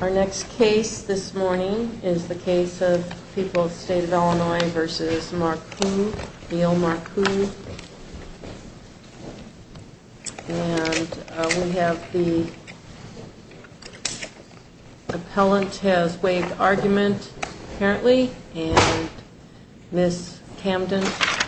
Our next case this morning is the case of People's State of Illinois v. Marcoux, Neal Marcoux. And we have the appellant has waived argument, apparently, and Ms. Camden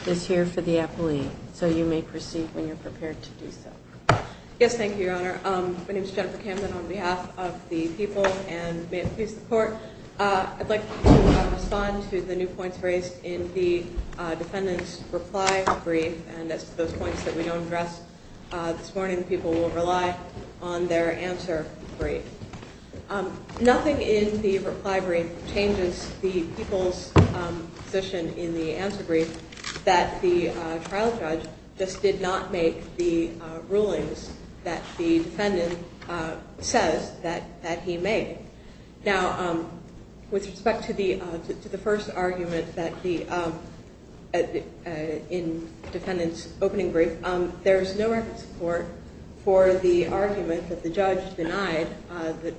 is here for the appellee. So you may proceed when you're prepared to do so. Yes, thank you, Your Honor. My name is Jennifer Camden on behalf of the people and may it please the court. I'd like to respond to the new points raised in the defendant's reply brief. And that's those points that we don't address this morning. People will rely on their answer brief. Nothing in the reply brief changes the people's position in the answer brief that the trial judge just did not make with the rulings that the defendant says that he made. Now, with respect to the first argument in the defendant's opening brief, there is no record support for the argument that the judge denied the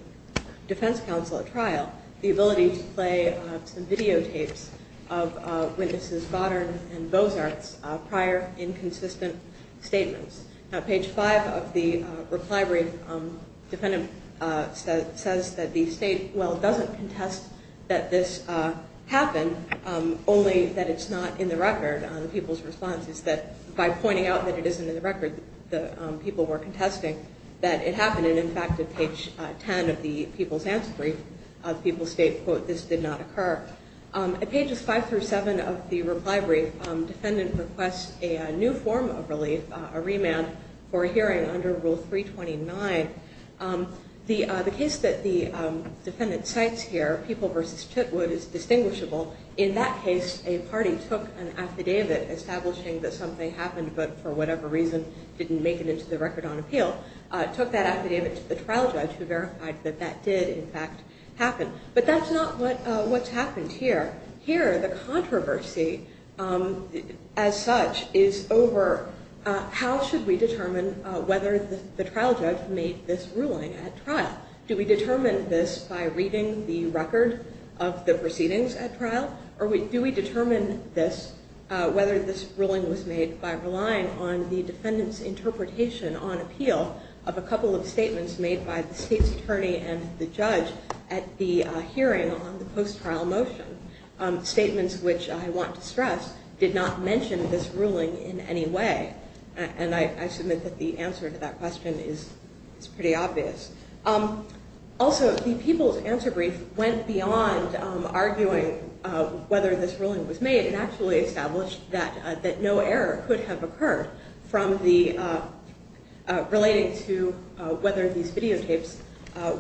defense counsel at trial the ability to play some videotapes of witnesses Goddard and Bozart's prior inconsistent statements. Now, page five of the reply brief, defendant says that the state, well, doesn't contest that this happened, only that it's not in the record. People's response is that by pointing out that it isn't in the record, the people were contesting that it happened. And in fact, at page 10 of the people's answer brief, people state, quote, this did not occur. At pages five through seven of the reply brief, defendant requests a new form of relief, a remand for a hearing under Rule 329. The case that the defendant cites here, People v. Chitwood, is distinguishable. In that case, a party took an affidavit establishing that something happened, but for whatever reason didn't make it into the record on appeal, took that affidavit to the trial judge who verified that that did, in fact, happen. But that's not what's happened here. Here, the controversy, as such, is over how should we determine whether the trial judge made this ruling at trial? Do we determine this by reading the record of the proceedings at trial? Or do we determine this, whether this ruling was made by relying on the defendant's interpretation on appeal of a couple of statements made by the state's attorney and the judge at the hearing on the post-trial motion? Statements which, I want to stress, did not mention this ruling in any way. And I submit that the answer to that question is pretty obvious. Also, the People's answer brief went beyond arguing whether this ruling was made and actually established that no error could have occurred relating to whether these videotapes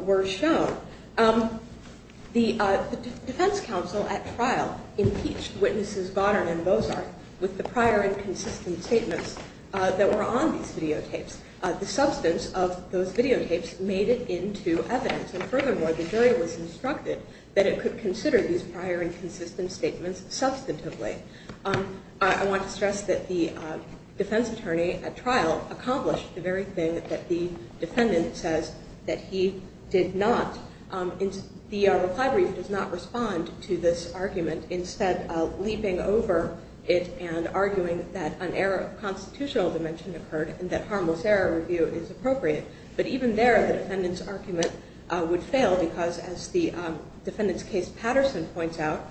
were shown. The defense counsel at trial impeached witnesses Goddard and Bozarth with the prior inconsistent statements that were on these videotapes. The substance of those videotapes made it into evidence. And furthermore, the jury was instructed that it could consider these prior inconsistent statements substantively. I want to stress that the defense attorney at trial accomplished the very thing that the defendant says that he did not. The reply brief does not respond to this argument. Instead, leaping over it and arguing that an error of constitutional dimension occurred and that harmless error review is appropriate. But even there, the defendant's argument would fail because, as the defendant's case Patterson points out,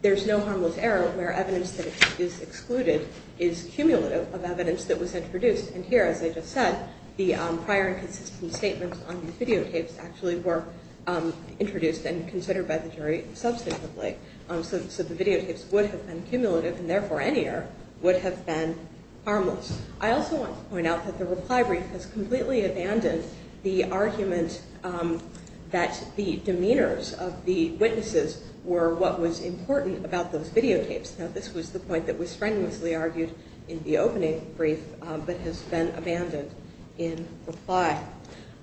there's no harmless error where evidence that is excluded is cumulative of evidence that was introduced. And here, as I just said, the prior inconsistent statements on the videotapes actually were introduced and considered by the jury substantively. So the videotapes would have been cumulative and, therefore, any error would have been harmless. I also want to point out that the reply brief has completely abandoned the argument that the demeanors of the witnesses were what was important about those videotapes. Now, this was the point that was strenuously argued in the opening brief but has been abandoned in reply.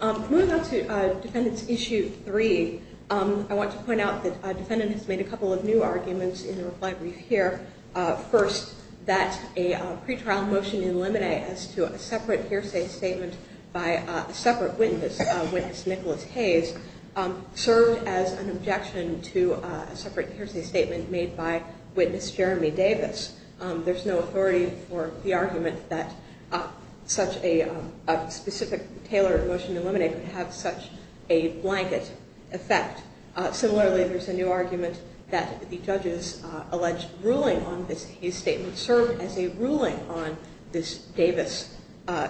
Moving on to Defendant's Issue 3, I want to point out that a defendant has made a couple of new arguments in the reply brief here. First, that a pretrial motion in limine as to a separate hearsay statement by a separate witness, Nicholas Hayes, served as an objection to a separate hearsay statement made by witness Jeremy Davis. There's no authority for the argument that such a specific tailored motion in limine could have such a blanket effect. Similarly, there's a new argument that the judge's alleged ruling on this Hayes statement served as a ruling on this Davis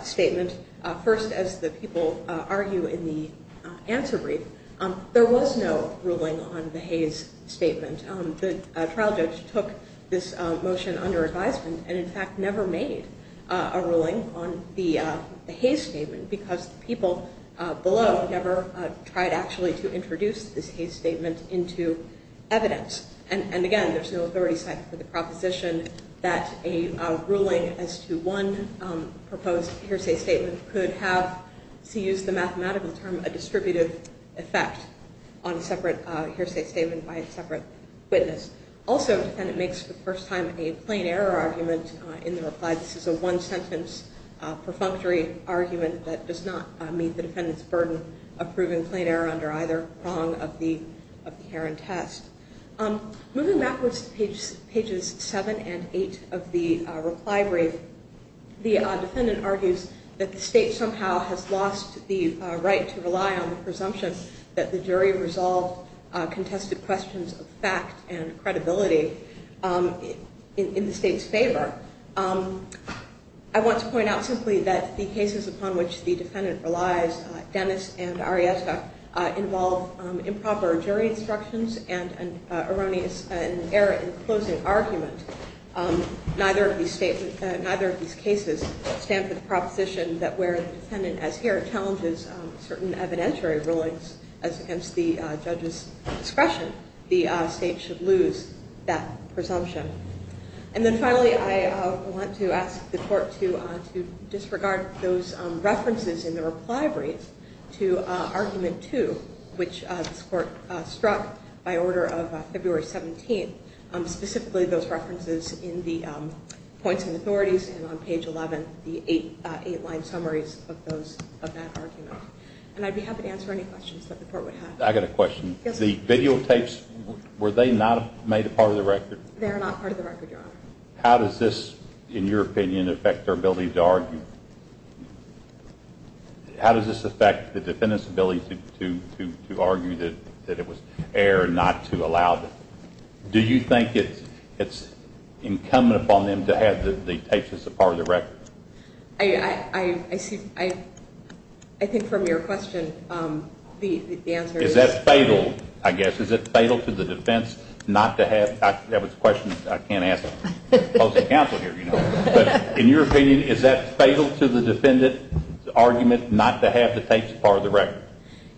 statement. First, as the people argue in the answer brief, there was no ruling on the Hayes statement. The trial judge took this motion under advisement and, in fact, never made a ruling on the Hayes statement because the people below never tried actually to introduce this Hayes statement into evidence. And, again, there's no authority set for the proposition that a ruling as to one proposed hearsay statement could have, to use the mathematical term, a distributive effect on a separate hearsay statement by a separate witness. Also, a defendant makes for the first time a plain error argument in the reply. This is a one-sentence perfunctory argument that does not meet the defendant's burden of proving plain error under either prong of the Heron test. Moving backwards to pages 7 and 8 of the reply brief, the defendant argues that the state somehow has lost the right to rely on the presumption that the jury resolved contested questions of fact and credibility in the state's favor. I want to point out simply that the cases upon which the defendant relies, Dennis and Arrieta, involve improper jury instructions and an error in closing argument. Neither of these cases stand for the proposition that where the defendant, as here, challenges certain evidentiary rulings as against the judge's discretion, the state should lose that presumption. And then finally, I want to ask the court to disregard those references in the reply brief to argument 2, which this court struck by order of February 17th, specifically those references in the points and authorities and on page 11, the eight-line summaries of that argument. And I'd be happy to answer any questions that the court would have. I've got a question. Yes, sir. The videotapes, were they not made a part of the record? They are not part of the record, Your Honor. How does this, in your opinion, affect their ability to argue? How does this affect the defendant's ability to argue that it was error not to allow them? Do you think it's incumbent upon them to have the tapes as a part of the record? I think from your question, the answer is yes. Is that fatal, I guess? Is it fatal to the defense not to have the tapes? That was a question I can't answer. I'm opposing counsel here, you know. But in your opinion, is that fatal to the defendant's argument not to have the tapes as part of the record?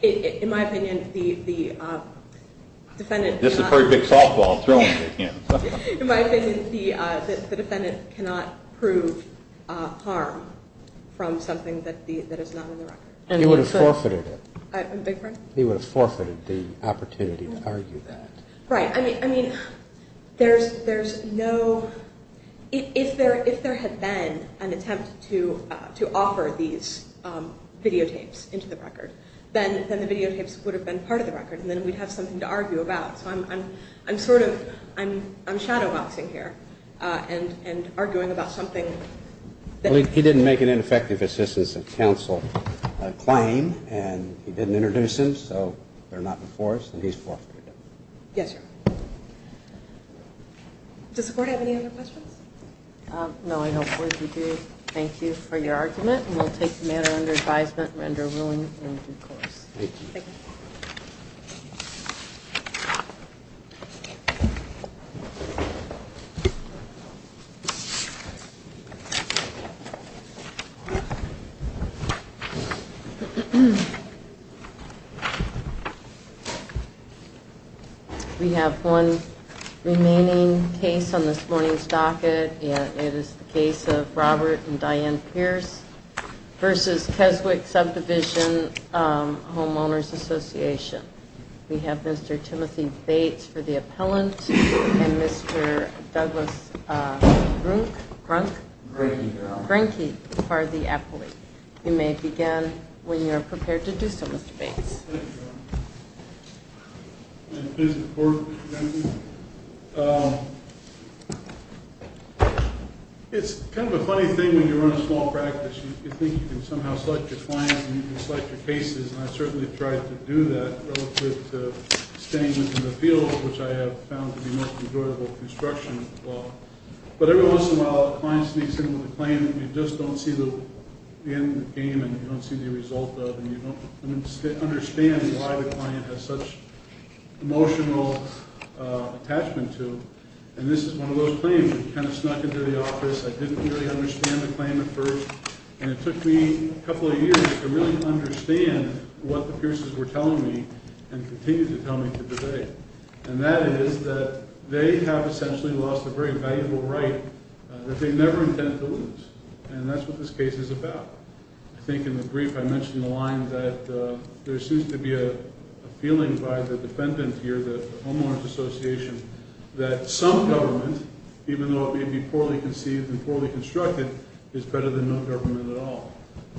In my opinion, the defendant cannot prove harm from something that is not in the record. I beg your pardon? He would have forfeited the opportunity to argue that. Right. I mean, there's no ‑‑ if there had been an attempt to offer these videotapes into the record, then the videotapes would have been part of the record, and then we'd have something to argue about. So I'm sort of ‑‑ I'm shadowboxing here and arguing about something. He didn't make an ineffective assistance of counsel claim, and he didn't introduce them, so they're not before us, and he's forfeited them. Yes, Your Honor. Does the Court have any other questions? No, I don't believe you do. Thank you for your argument, and we'll take the matter under advisement and render ruling in due course. Thank you. Thank you. Thank you. We have one remaining case on this morning's docket, and it is the case of Robert and Diane Pierce v. Keswick Subdivision Homeowners Association. We have Mr. Timothy Bates for the appellant, and Mr. Douglas Grunk? Granky, Your Honor. Granky for the appellant. You may begin when you are prepared to do so, Mr. Bates. Thank you, Your Honor. It is important, Mr. Kennedy. It's kind of a funny thing when you run a small practice. You think you can somehow select your clients, and you can select your cases, and I've certainly tried to do that relative to staying in the field, which I have found to be most enjoyable construction as well. But every once in a while a client sneaks in with a claim that you just don't see the end game and you don't see the result of, and you don't understand why the client has such emotional attachment to, and this is one of those claims that kind of snuck into the office. I didn't really understand the claim at first, and it took me a couple of years to really understand what the Pierce's were telling me and continue to tell me to this day, and that is that they have essentially lost a very valuable right that they never intend to lose, and that's what this case is about. I think in the brief I mentioned the line that there seems to be a feeling by the defendant here, the homeowner's association, that some government, even though it may be poorly conceived and poorly constructed, is better than no government at all,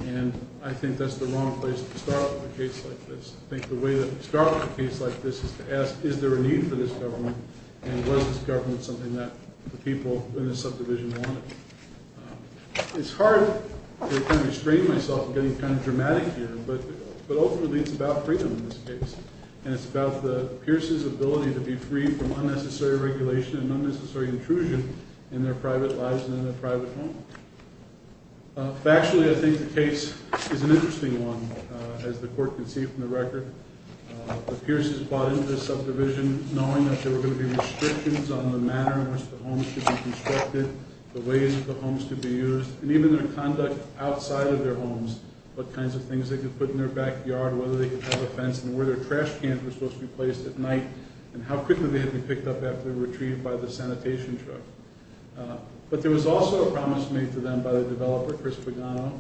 and I think that's the wrong place to start with a case like this. I think the way to start with a case like this is to ask, is there a need for this government, and was this government something that the people in the subdivision wanted? It's hard to kind of restrain myself in getting kind of dramatic here, but ultimately it's about freedom in this case, and it's about the Pierce's ability to be free from unnecessary regulation and unnecessary intrusion in their private lives and in their private home. Factually, I think the case is an interesting one, as the court can see from the record. The Pierce's bought into this subdivision knowing that there were going to be restrictions on the manner in which the homes could be constructed, the ways that the homes could be used, and even their conduct outside of their homes, what kinds of things they could put in their backyard, whether they could have a fence, and where their trash cans were supposed to be placed at night, and how quickly they had been picked up after they were retrieved by the sanitation truck. But there was also a promise made to them by the developer, Chris Pagano,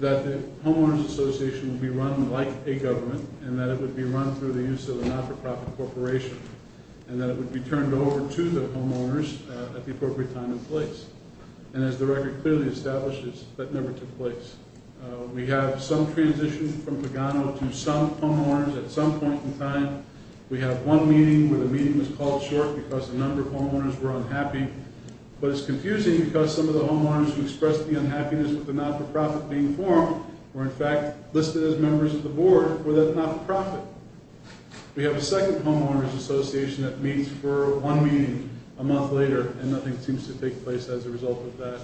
that the homeowners association would be run like a government, and that it would be run through the use of a not-for-profit corporation, and that it would be turned over to the homeowners at the appropriate time and place. And as the record clearly establishes, that never took place. We have some transition from Pagano to some homeowners at some point in time. We have one meeting where the meeting was called short because a number of homeowners were unhappy. But it's confusing because some of the homeowners who expressed the unhappiness with the not-for-profit being formed were in fact listed as members of the board with a not-for-profit. We have a second homeowners association that meets for one meeting a month later, and nothing seems to take place as a result of that.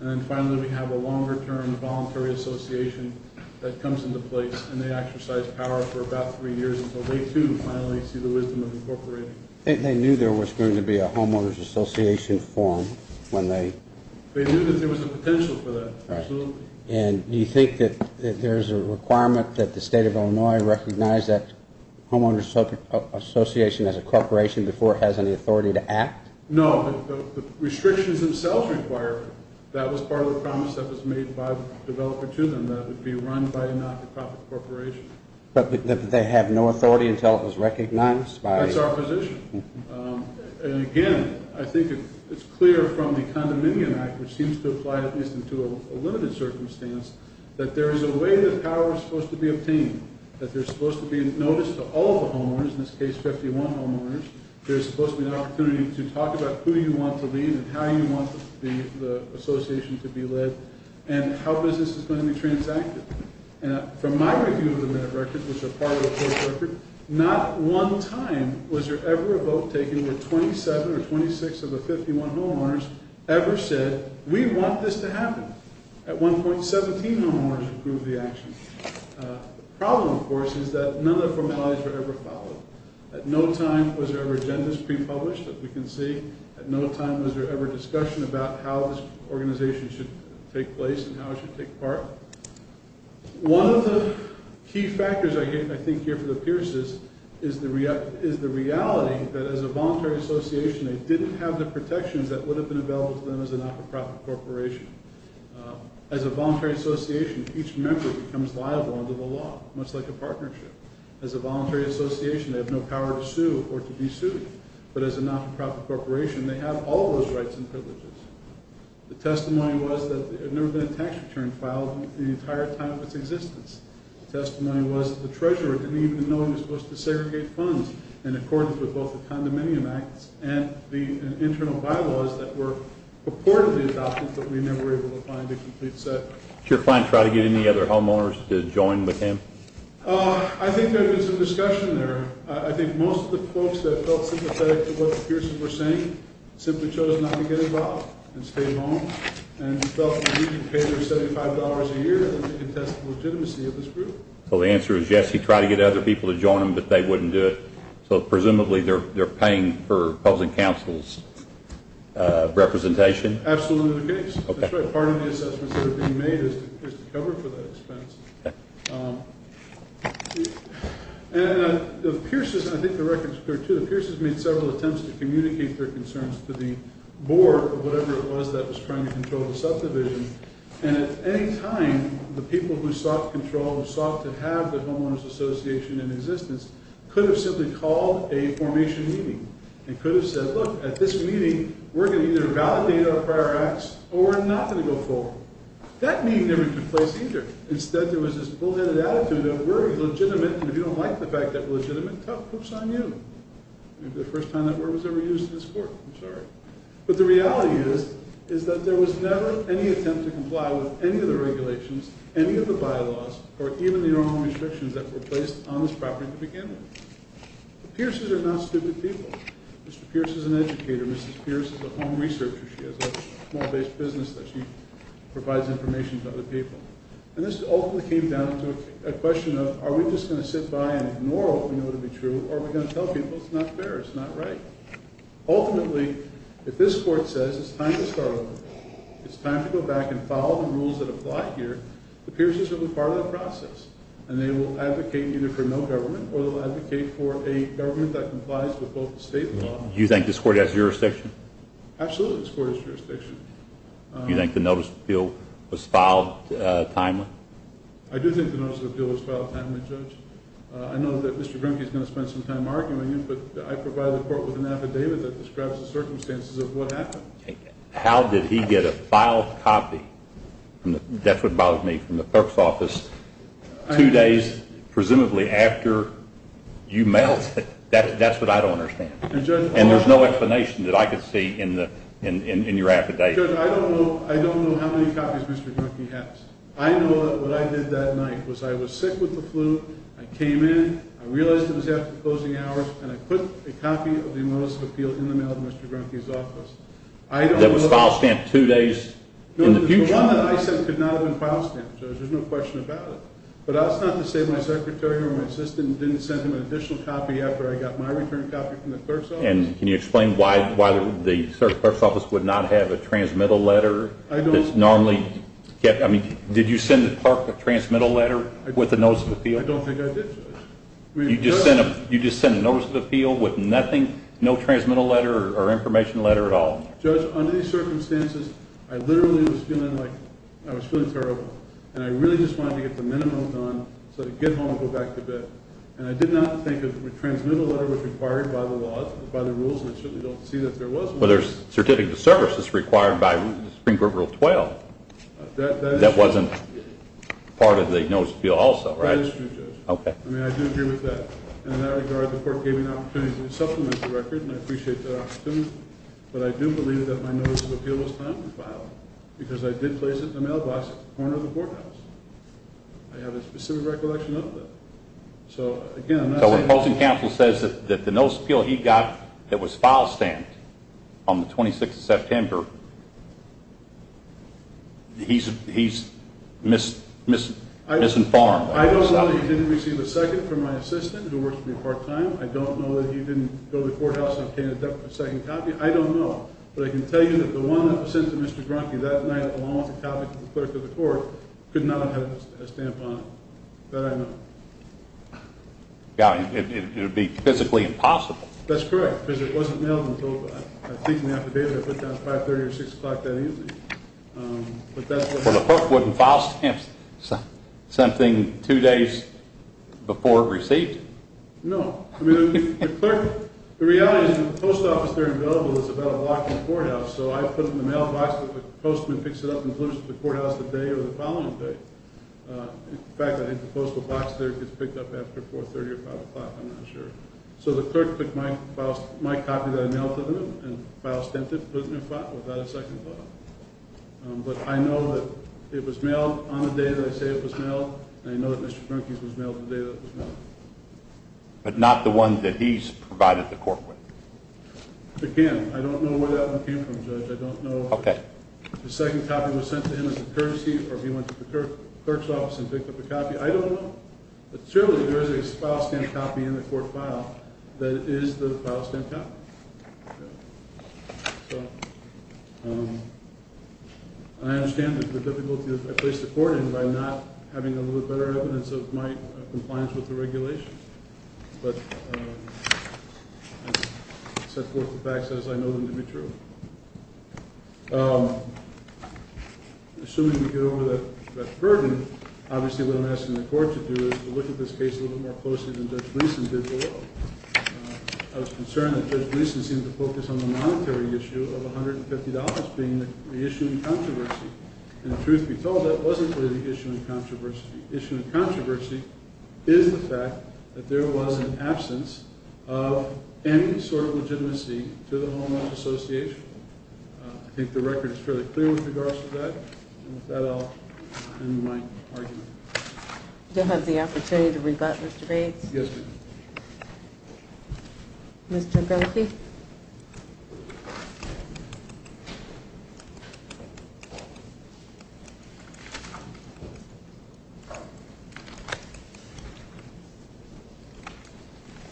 And then finally, we have a longer-term voluntary association that comes into place, and they exercise power for about three years until they, too, finally see the wisdom of incorporating. They knew there was going to be a homeowners association formed when they... They knew that there was a potential for that, absolutely. And do you think that there's a requirement that the state of Illinois recognize that homeowners association as a corporation before it has any authority to act? No, the restrictions themselves require it. That was part of the promise that was made by the developer to them, that it would be run by a not-for-profit corporation. But they have no authority until it was recognized by... That's our position. And again, I think it's clear from the Condominium Act, which seems to apply at least into a limited circumstance, that there is a way that power is supposed to be obtained, that there's supposed to be notice to all the homeowners, in this case 51 homeowners, there's supposed to be an opportunity to talk about who you want to lead and how you want the association to be led and how business is going to be transacted. From my review of the minute record, which is a part of the full record, not one time was there ever a vote taken where 27 or 26 of the 51 homeowners ever said, we want this to happen. At one point, 17 homeowners approved the action. The problem, of course, is that none of the formalities were ever followed. At no time was there ever agendas pre-published, as we can see. At no time was there ever discussion about how this organization should take place and how it should take part. One of the key factors, I think, here for the Pierces is the reality that as a voluntary association, they didn't have the protections that would have been available to them as a not-for-profit corporation. As a voluntary association, each member becomes liable under the law, much like a partnership. As a voluntary association, they have no power to sue or to be sued. But as a not-for-profit corporation, they have all those rights and privileges. The testimony was that there had never been a tax return filed in the entire time of its existence. The testimony was that the treasurer didn't even know he was supposed to segregate funds in accordance with both the Condominium Act and the internal bylaws that were purportedly adopted, but we never were able to find a complete set. Did your client try to get any other homeowners to join with him? I think there had been some discussion there. I think most of the folks that felt sympathetic to what the Pierces were saying simply chose not to get involved and stayed home and felt that he could pay their $75 a year to contest the legitimacy of this group. So the answer is yes, he tried to get other people to join him, but they wouldn't do it. So presumably they're paying for public counsel's representation? Absolutely the case. That's right. Part of the assessments that are being made is to cover for that expense. I think the record is clear too. The Pierces made several attempts to communicate their concerns to the board or whatever it was that was trying to control the subdivision, and at any time the people who sought control, who sought to have the Homeowners Association in existence, could have simply called a formation meeting and could have said, look, at this meeting we're going to either validate our prior acts or we're not going to go forward. That meeting never took place either. Instead there was this bullheaded attitude that we're legitimate, and if you don't like the fact that we're legitimate, tough. Poops on you. Maybe the first time that word was ever used in this court. I'm sorry. But the reality is that there was never any attempt to comply with any of the regulations, any of the bylaws, or even the normal restrictions that were placed on this property to begin with. The Pierces are not stupid people. Mr. Pierce is an educator. Mrs. Pierce is a home researcher. She has a small-based business that she provides information to other people. And this ultimately came down to a question of, are we just going to sit by and ignore what we know to be true, or are we going to tell people it's not fair, it's not right? Ultimately, if this court says it's time to start over, it's time to go back and follow the rules that apply here, the Pierces will be part of the process, and they will advocate either for no government or they'll advocate for a government that complies with both the state and the law. Do you think this court has jurisdiction? Absolutely this court has jurisdiction. Do you think the notice of appeal was filed timely? I do think the notice of appeal was filed timely, Judge. I know that Mr. Grimke is going to spend some time arguing it, but I provided the court with an affidavit that describes the circumstances of what happened. How did he get a filed copy? That's what bothers me from the clerk's office. Two days, presumably, after you mailed it. That's what I don't understand. And there's no explanation that I could see in your affidavit. Judge, I don't know how many copies Mr. Grimke has. I know that what I did that night was I was sick with the flu, I came in, I realized it was after closing hours, and I put a copy of the notice of appeal in the mail to Mr. Grimke's office. That was file stamped two days in the future? The one that I sent could not have been file stamped, Judge. There's no question about it. But that's not to say my secretary or my assistant didn't send him an additional copy after I got my return copy from the clerk's office. And can you explain why the clerk's office would not have a transmittal letter? Did you send the clerk a transmittal letter with a notice of appeal? I don't think I did, Judge. You just sent a notice of appeal with nothing? No transmittal letter or information letter at all? Judge, under these circumstances, I literally was feeling terrible, and I really just wanted to get the minimum done so I could get home and go back to bed. And I did not think a transmittal letter was required by the laws, by the rules, and I certainly don't see that there was one. Well, there's certificate of service that's required by Supreme Court Rule 12. That wasn't part of the notice of appeal also, right? That is true, Judge. Okay. I mean, I do agree with that. In that regard, the court gave me an opportunity to supplement the record, and I appreciate that opportunity. But I do believe that my notice of appeal was timely filed because I did place it in the mailbox at the corner of the courthouse. I have a specific recollection of that. So, again, I'm not saying that… So when Posting Counsel says that the notice of appeal he got that was file stamped on the 26th of September, he's misinformed? I don't know that he didn't receive a second from my assistant who works with me part-time. I don't know that he didn't go to the courthouse and obtain a second copy. I don't know. But I can tell you that the one that was sent to Mr. Grunke that night along with the copy to the clerk of the court could not have had a stamp on it. That I know. Yeah, it would be physically impossible. That's correct, because it wasn't mailed until I think in the affidavit I put down 530 or 6 o'clock that evening. But that's what happened. Well, the clerk wouldn't file stamps something two days before it received? No. I mean, the clerk… The reality is the post office there in Billable is about a block from the courthouse, so I put in the mailbox that the postman picks it up and delivers it to the courthouse the day or the following day. In fact, I think the postal box there gets picked up after 430 or 5 o'clock. I'm not sure. So the clerk took my copy that I mailed to him and file stamped it, put it in a file, without a second thought. But I know that it was mailed on the day that I say it was mailed, and I know that Mr. Grunke's was mailed the day that it was mailed. But not the one that he's provided the court with? I can't. I don't know where that one came from, Judge. I don't know if the second copy was sent to him as a courtesy or if he went to the clerk's office and picked up a copy. I don't know. But surely there is a file stamped copy in the court file that is the file stamped copy. So I understand the difficulty that I placed the court in by not having a little bit better evidence of my compliance with the regulations. But I set forth the facts as I know them to be true. Assuming we get over that burden, obviously what I'm asking the court to do is to look at this case a little bit more closely than Judge Gleeson did below. I was concerned that Judge Gleeson seemed to focus on the monetary issue of $150, being the issue in controversy. And the truth be told, that wasn't really the issue in controversy. The issue in controversy is the fact that there was an absence of any sort of legitimacy to the Home Office Association. I think the record is fairly clear with regards to that. And with that, I'll end my argument. Do I have the opportunity to rebut, Mr. Bates? Yes, ma'am. Mr. Grimke?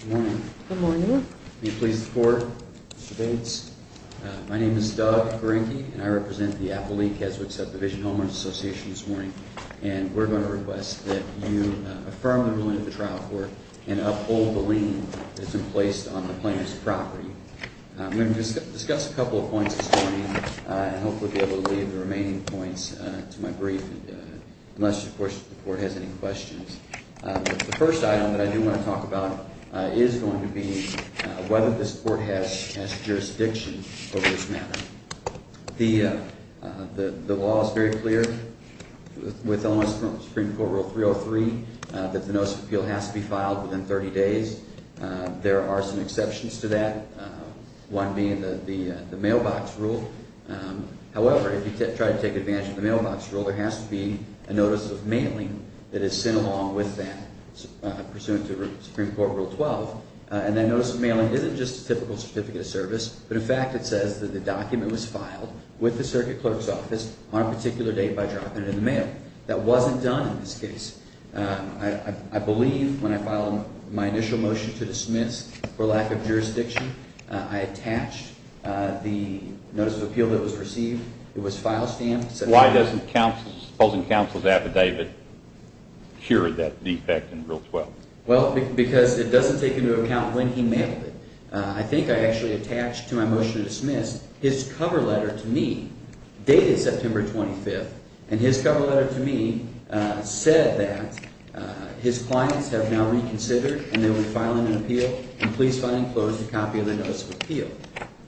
Good morning. Good morning. May it please the Court, Mr. Bates. My name is Doug Grimke, and I represent the Appellee-Keswick Subdivision Homeowners Association this morning. And we're going to request that you affirm the ruling of the trial court and uphold the lien that's been placed on the plaintiff's property. We're going to discuss a couple of points this morning, and hopefully be able to leave the remaining points to my brief, unless, of course, the Court has any questions. The first item that I do want to talk about is going to be whether this Court has jurisdiction over this matter. The law is very clear with elements of Supreme Court Rule 303 that the notice of appeal has to be filed within 30 days. There are some exceptions to that, one being the mailbox rule. However, if you try to take advantage of the mailbox rule, there has to be a notice of mailing that is sent along with that, pursuant to Supreme Court Rule 12. And that notice of mailing isn't just a typical certificate of service, but in fact it says that the document was filed with the circuit clerk's office on a particular date by dropping it in the mail. That wasn't done in this case. I believe when I filed my initial motion to dismiss for lack of jurisdiction, I attached the notice of appeal that was received. It was file stamped. Why doesn't the opposing counsel's affidavit cure that defect in Rule 12? Well, because it doesn't take into account when he mailed it. I think I actually attached to my motion to dismiss his cover letter to me, dated September 25th, and his cover letter to me said that his clients have now reconsidered, and they were filing an appeal, and please file and close a copy of the notice of appeal.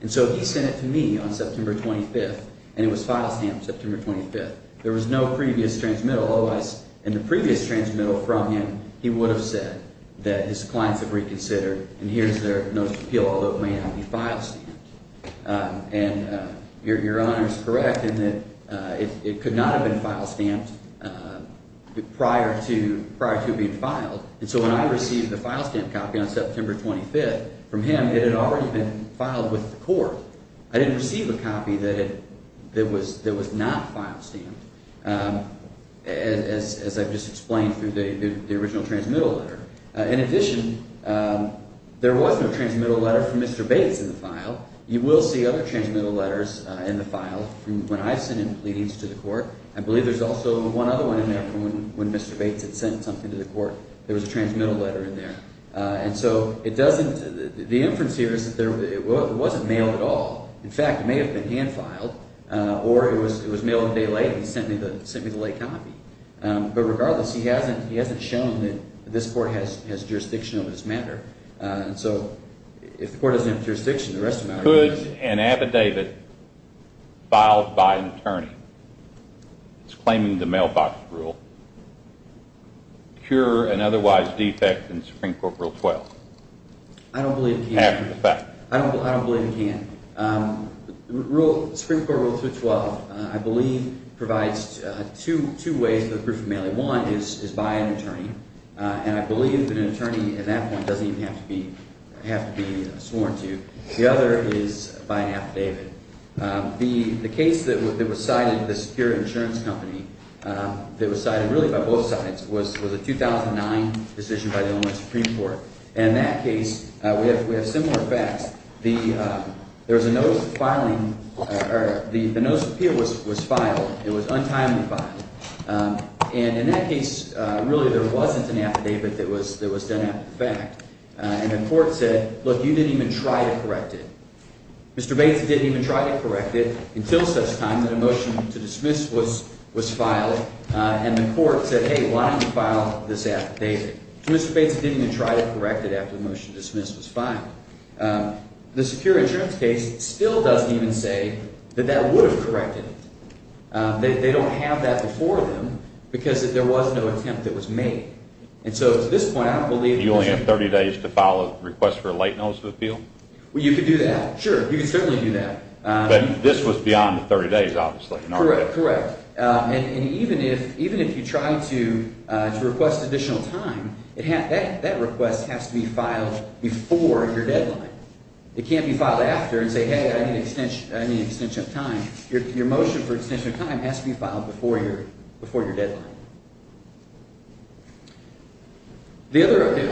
And so he sent it to me on September 25th, and it was file stamped September 25th. There was no previous transmittal, otherwise in the previous transmittal from him, he would have said that his clients have reconsidered, and here's their notice of appeal, although it may not be file stamped. And Your Honor is correct in that it could not have been file stamped prior to it being filed. And so when I received the file stamped copy on September 25th from him, it had already been filed with the court. I didn't receive a copy that was not file stamped, as I've just explained through the original transmittal letter. In addition, there was no transmittal letter from Mr. Bates in the file. You will see other transmittal letters in the file from when I've sent in pleadings to the court. I believe there's also one other one in there from when Mr. Bates had sent something to the court. There was a transmittal letter in there. And so the inference here is that it wasn't mailed at all. In fact, it may have been hand filed, or it was mailed a day later and he sent me the late copy. But regardless, he hasn't shown that this court has jurisdiction over this matter. And so if the court doesn't have jurisdiction, the rest of the matter doesn't matter. Could an affidavit filed by an attorney that's claiming the mailbox rule cure an otherwise defect in Supreme Court Rule 12? I don't believe it can. Half the facts. I don't believe it can. The Supreme Court Rule 212, I believe, provides two ways for the proof of mailing. One is by an attorney, and I believe that an attorney at that point doesn't even have to be sworn to. The other is by an affidavit. The case that was cited, the Superior Insurance Company, that was cited really by both sides, was a 2009 decision by the Illinois Supreme Court. And in that case, we have similar facts. There was a notice of filing – or the notice of appeal was filed. It was untimely filed. And in that case, really there wasn't an affidavit that was done after the fact. And the court said, look, you didn't even try to correct it. Mr. Bates didn't even try to correct it until such time that a motion to dismiss was filed. And the court said, hey, why don't you file this affidavit? So Mr. Bates didn't even try to correct it after the motion to dismiss was filed. The Security Insurance case still doesn't even say that that would have corrected it. They don't have that before them because there was no attempt that was made. And so at this point, I don't believe – You only have 30 days to file a request for a late notice of appeal? Well, you could do that. Sure, you could certainly do that. But this was beyond the 30 days, obviously. Correct, correct. And even if you try to request additional time, that request has to be filed before your deadline. It can't be filed after and say, hey, I need an extension of time. Your motion for extension of time has to be filed before your deadline.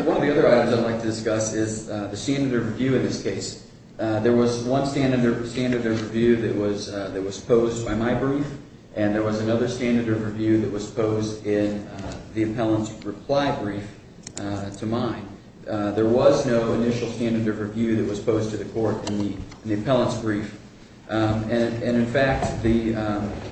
One of the other items I'd like to discuss is the standard of review in this case. There was one standard of review that was posed by my brief, and there was another standard of review that was posed in the appellant's reply brief to mine. There was no initial standard of review that was posed to the court in the appellant's brief. And, in fact, the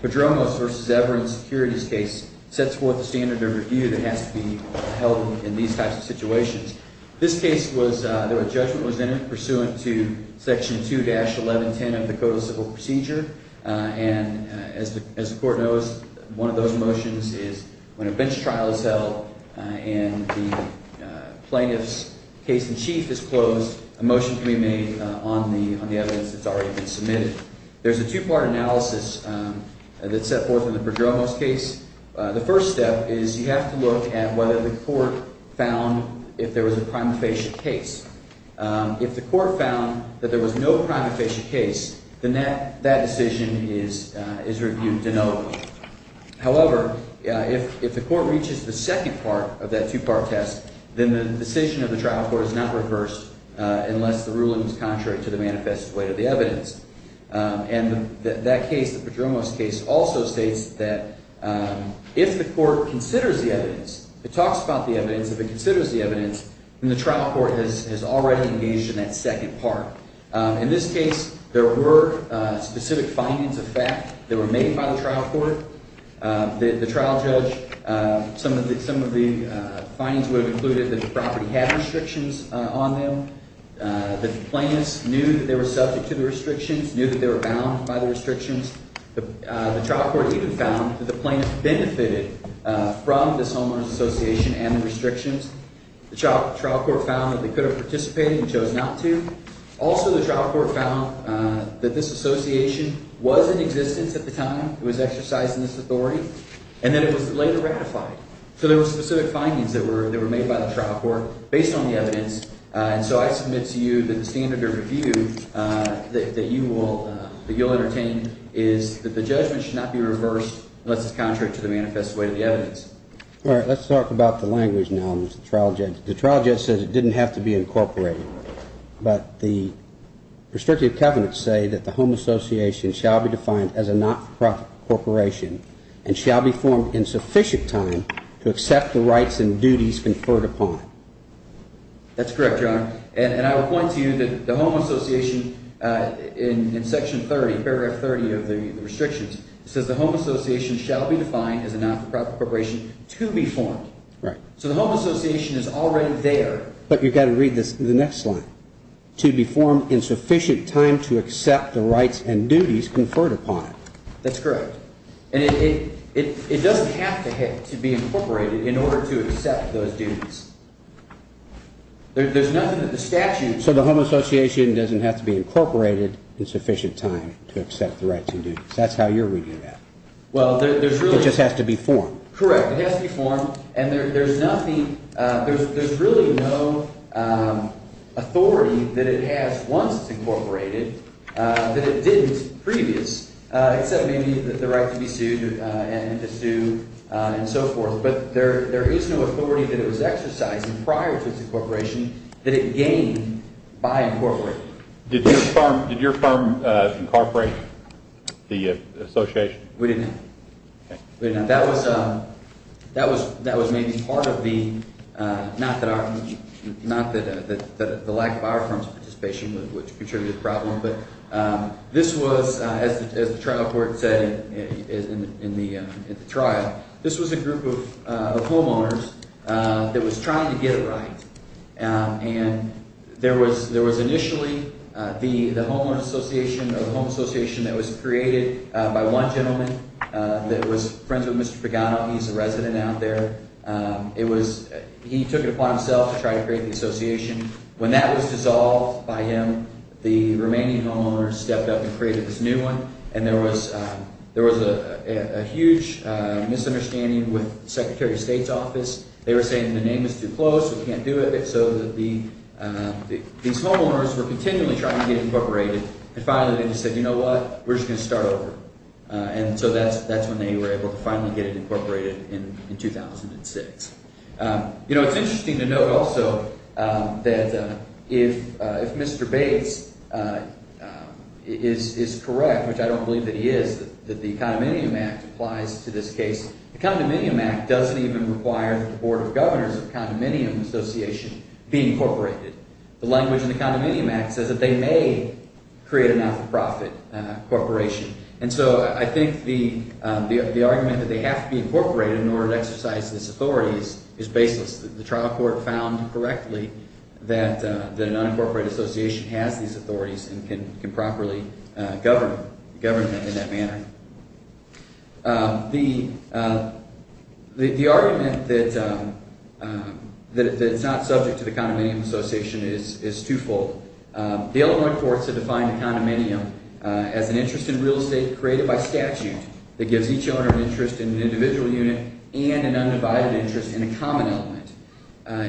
Padromos v. Everin securities case sets forth a standard of review that has to be held in these types of situations. This case was – a judgment was entered pursuant to Section 2-1110 of the Code of Civil Procedure. And as the court knows, one of those motions is when a bench trial is held and the plaintiff's case in chief is closed, a motion can be made on the evidence that's already been submitted. There's a two-part analysis that's set forth in the Padromos case. The first step is you have to look at whether the court found if there was a prima facie case. If the court found that there was no prima facie case, then that decision is reviewed denotably. However, if the court reaches the second part of that two-part test, then the decision of the trial court is not reversed unless the ruling is contrary to the manifest weight of the evidence. And that case, the Padromos case, also states that if the court considers the evidence, it talks about the evidence. If it considers the evidence, then the trial court has already engaged in that second part. In this case, there were specific findings of fact that were made by the trial court. The trial judge, some of the findings would have included that the property had restrictions on them. The plaintiffs knew that they were subject to the restrictions, knew that they were bound by the restrictions. The trial court even found that the plaintiffs benefited from this homeowners association and the restrictions. The trial court found that they could have participated and chose not to. Also, the trial court found that this association was in existence at the time it was exercised in this authority and that it was later ratified. So there were specific findings that were made by the trial court based on the evidence. And so I submit to you that the standard of review that you will entertain is that the judgment should not be reversed unless it's contrary to the manifest weight of the evidence. All right, let's talk about the language now in the trial judge. The trial judge said it didn't have to be incorporated. But the restrictive covenants say that the home association shall be defined as a not-for-profit corporation and shall be formed in sufficient time to accept the rights and duties conferred upon it. That's correct, Your Honor. And I will point to you that the home association in Section 30, Paragraph 30 of the restrictions, says the home association shall be defined as a not-for-profit corporation to be formed. Right. So the home association is already there. But you've got to read the next slide. To be formed in sufficient time to accept the rights and duties conferred upon it. That's correct. And it doesn't have to be incorporated in order to accept those duties. There's nothing that the statute. So the home association doesn't have to be incorporated in sufficient time to accept the rights and duties. That's how you're reading that. Well, there's really. It just has to be formed. Correct. It has to be formed. And there's nothing, there's really no authority that it has once it's incorporated that it didn't previous, except maybe the right to be sued and the sue and so forth. But there is no authority that it was exercising prior to its incorporation that it gained by incorporating it. Did your firm incorporate the association? We didn't. Okay. We didn't. That was maybe part of the, not that the lack of our firm's participation would contribute to the problem. But this was, as the trial court said in the trial, this was a group of homeowners that was trying to get it right. And there was initially the homeowner association or the home association that was created by one gentleman that was friends with Mr. Pagano. He's a resident out there. It was, he took it upon himself to try to create the association. When that was dissolved by him, the remaining homeowners stepped up and created this new one. And there was a huge misunderstanding with the Secretary of State's office. They were saying the name is too close, we can't do it. So these homeowners were continually trying to get it incorporated. And finally they just said, you know what, we're just going to start over. And so that's when they were able to finally get it incorporated in 2006. You know, it's interesting to note also that if Mr. Bates is correct, which I don't believe that he is, that the Condominium Act applies to this case. The Condominium Act doesn't even require that the Board of Governors of the Condominium Association be incorporated. The language in the Condominium Act says that they may create a not-for-profit corporation. And so I think the argument that they have to be incorporated in order to exercise these authorities is baseless. The trial court found correctly that a non-incorporated association has these authorities and can properly govern them in that manner. The argument that it's not subject to the Condominium Association is twofold. The Illinois courts have defined a condominium as an interest in real estate created by statute that gives each owner an interest in an individual unit and an undivided interest in a common element.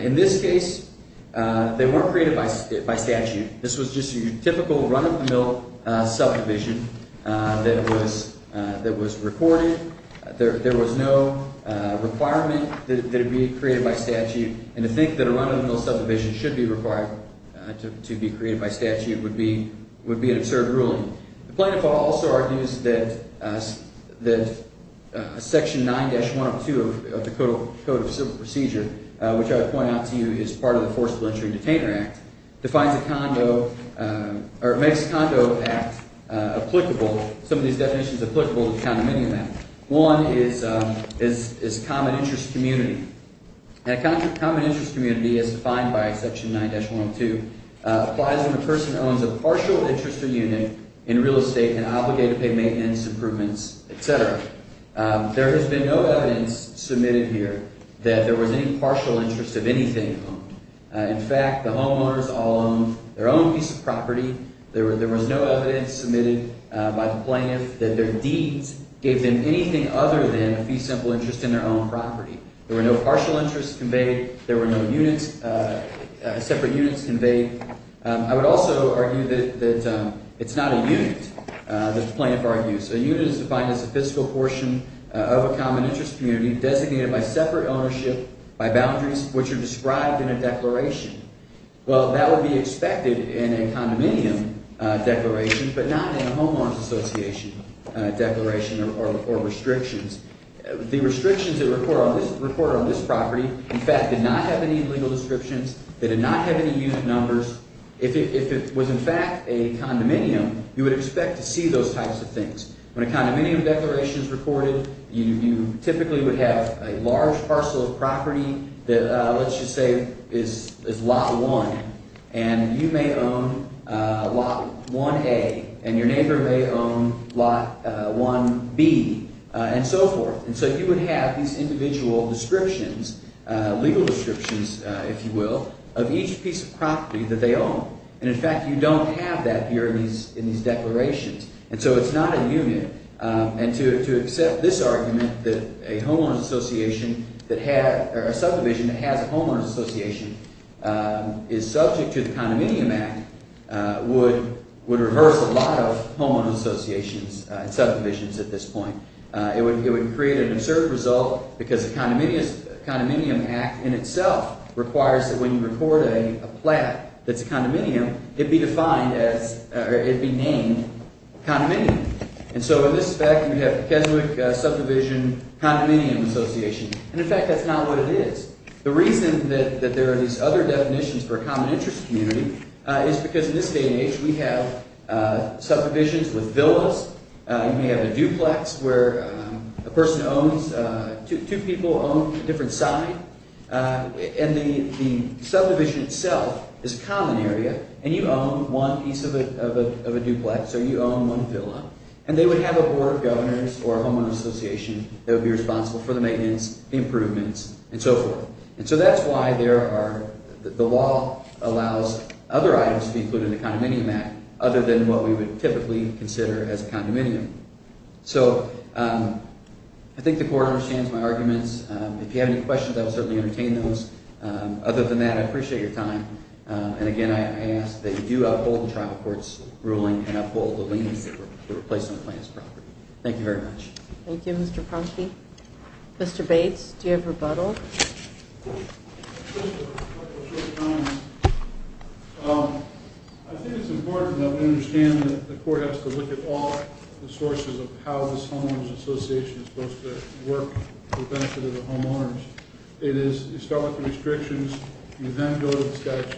In this case, they weren't created by statute. This was just your typical run-of-the-mill subdivision that was recorded. There was no requirement that it be created by statute, and to think that a run-of-the-mill subdivision should be required to be created by statute would be an absurd ruling. The plaintiff also argues that Section 9-102 of the Code of Civil Procedure, which I would point out to you is part of the Forcible Entry and Detainer Act, defines a condo – or makes a condo act applicable – some of these definitions applicable to the Condominium Act. One is common interest community. And a common interest community, as defined by Section 9-102, applies when a person owns a partial interest or unit in real estate and obligated pay maintenance improvements, etc. There has been no evidence submitted here that there was any partial interest of anything. In fact, the homeowners all owned their own piece of property. There was no evidence submitted by the plaintiff that their deeds gave them anything other than a fee-simple interest in their own property. There were no partial interests conveyed. There were no units – separate units conveyed. I would also argue that it's not a unit, the plaintiff argues. A unit is defined as a fiscal portion of a common interest community designated by separate ownership by boundaries, which are described in a declaration. Well, that would be expected in a condominium declaration, but not in a homeowner's association declaration or restrictions. The restrictions that report on this property, in fact, did not have any legal descriptions. They did not have any unit numbers. If it was in fact a condominium, you would expect to see those types of things. When a condominium declaration is recorded, you typically would have a large parcel of property that, let's just say, is Lot 1. And you may own Lot 1A, and your neighbor may own Lot 1B. And so forth. And so you would have these individual descriptions, legal descriptions, if you will, of each piece of property that they own. And in fact, you don't have that here in these declarations. And so it's not a unit. And to accept this argument that a homeowner's association that had – or a subdivision that has a homeowner's association is subject to the Condominium Act would reverse a lot of homeowner's associations and subdivisions at this point. It would create an absurd result because the Condominium Act in itself requires that when you record a plat that's a condominium, it be defined as – or it be named condominium. And so in this fact, we have Keswick Subdivision Condominium Association. And in fact, that's not what it is. The reason that there are these other definitions for a common interest community is because in this day and age, we have subdivisions with villas. You may have a duplex where a person owns – two people own a different site. And the subdivision itself is a common area, and you own one piece of a duplex or you own one villa, and they would have a board of governors or a homeowner's association that would be responsible for the maintenance, improvements, and so forth. And so that's why there are – the law allows other items to be included in the Condominium Act other than what we would typically consider as a condominium. So I think the court understands my arguments. If you have any questions, I will certainly entertain those. Other than that, I appreciate your time. And again, I ask that you do uphold the trial court's ruling and uphold the leniency for replacing the plaintiff's property. Thank you very much. Thank you, Mr. Kronsky. Mr. Bates, do you have rebuttal? Just a couple quick comments. I think it's important that we understand that the court has to look at all the sources of how this homeowners' association is supposed to work for the benefit of the homeowners. It is – you start with the restrictions, you then go to the statute,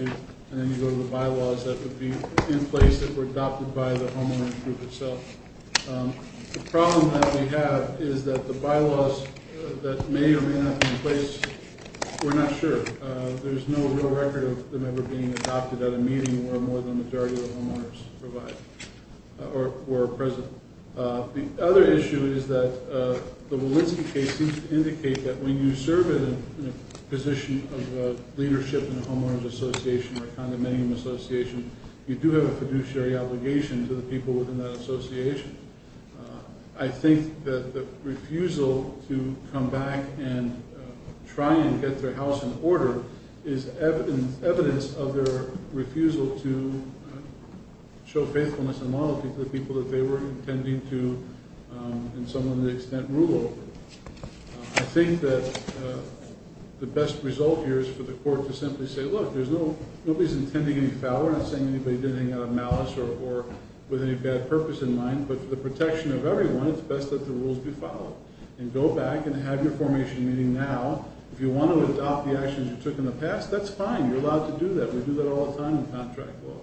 and then you go to the bylaws that would be in place that were adopted by the homeowners' group itself. The problem that we have is that the bylaws that may or may not be in place, we're not sure. There's no real record of them ever being adopted at a meeting where more than the majority of the homeowners provide or are present. The other issue is that the Walensky case seems to indicate that when you serve in a position of leadership in a homeowners' association or a condominium association, you do have a fiduciary obligation to the people within that association. I think that the refusal to come back and try and get their house in order is evidence of their refusal to show faithfulness and loyalty to the people that they were intending to, in some extent, rule over. I think that the best result here is for the court to simply say, look, there's no – nobody's intending any foul or saying anybody did anything out of malice or with any bad purpose in mind, but for the protection of everyone, it's best that the rules be followed. And go back and have your formation meeting now. If you want to adopt the actions you took in the past, that's fine. You're allowed to do that. We do that all the time in contract law.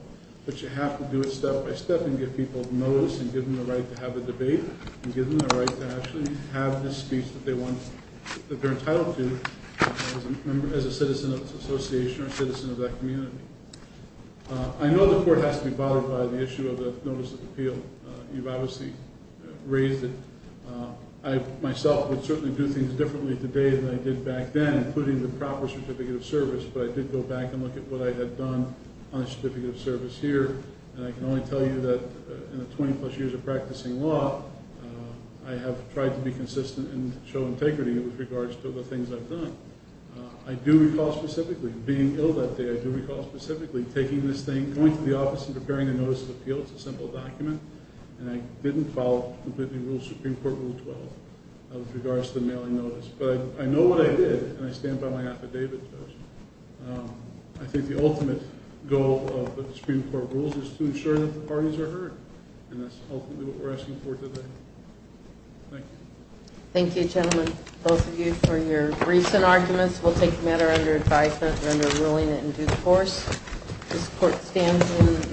But you have to do it step by step and give people notice and give them the right to have a debate and give them the right to actually have the speech that they're entitled to as a citizen of the association or citizen of that community. I know the court has to be bothered by the issue of the notice of appeal. You've obviously raised it. I myself would certainly do things differently today than I did back then, including the proper certificate of service, but I did go back and look at what I had done on a certificate of service here, and I can only tell you that in the 20-plus years of practicing law, I have tried to be consistent and show integrity with regards to the things I've done. I do recall specifically being ill that day. I do recall specifically taking this thing, going to the office and preparing a notice of appeal. It's a simple document, and I didn't follow completely the rules of Supreme Court Rule 12 with regards to the mailing notice. But I know what I did, and I stand by my affidavit. I think the ultimate goal of the Supreme Court rules is to ensure that the parties are heard, and that's ultimately what we're asking for today. Thank you. Thank you, gentlemen, both of you, for your briefs and arguments. We'll take the matter under advisement and under ruling in due course. This court stands in recess.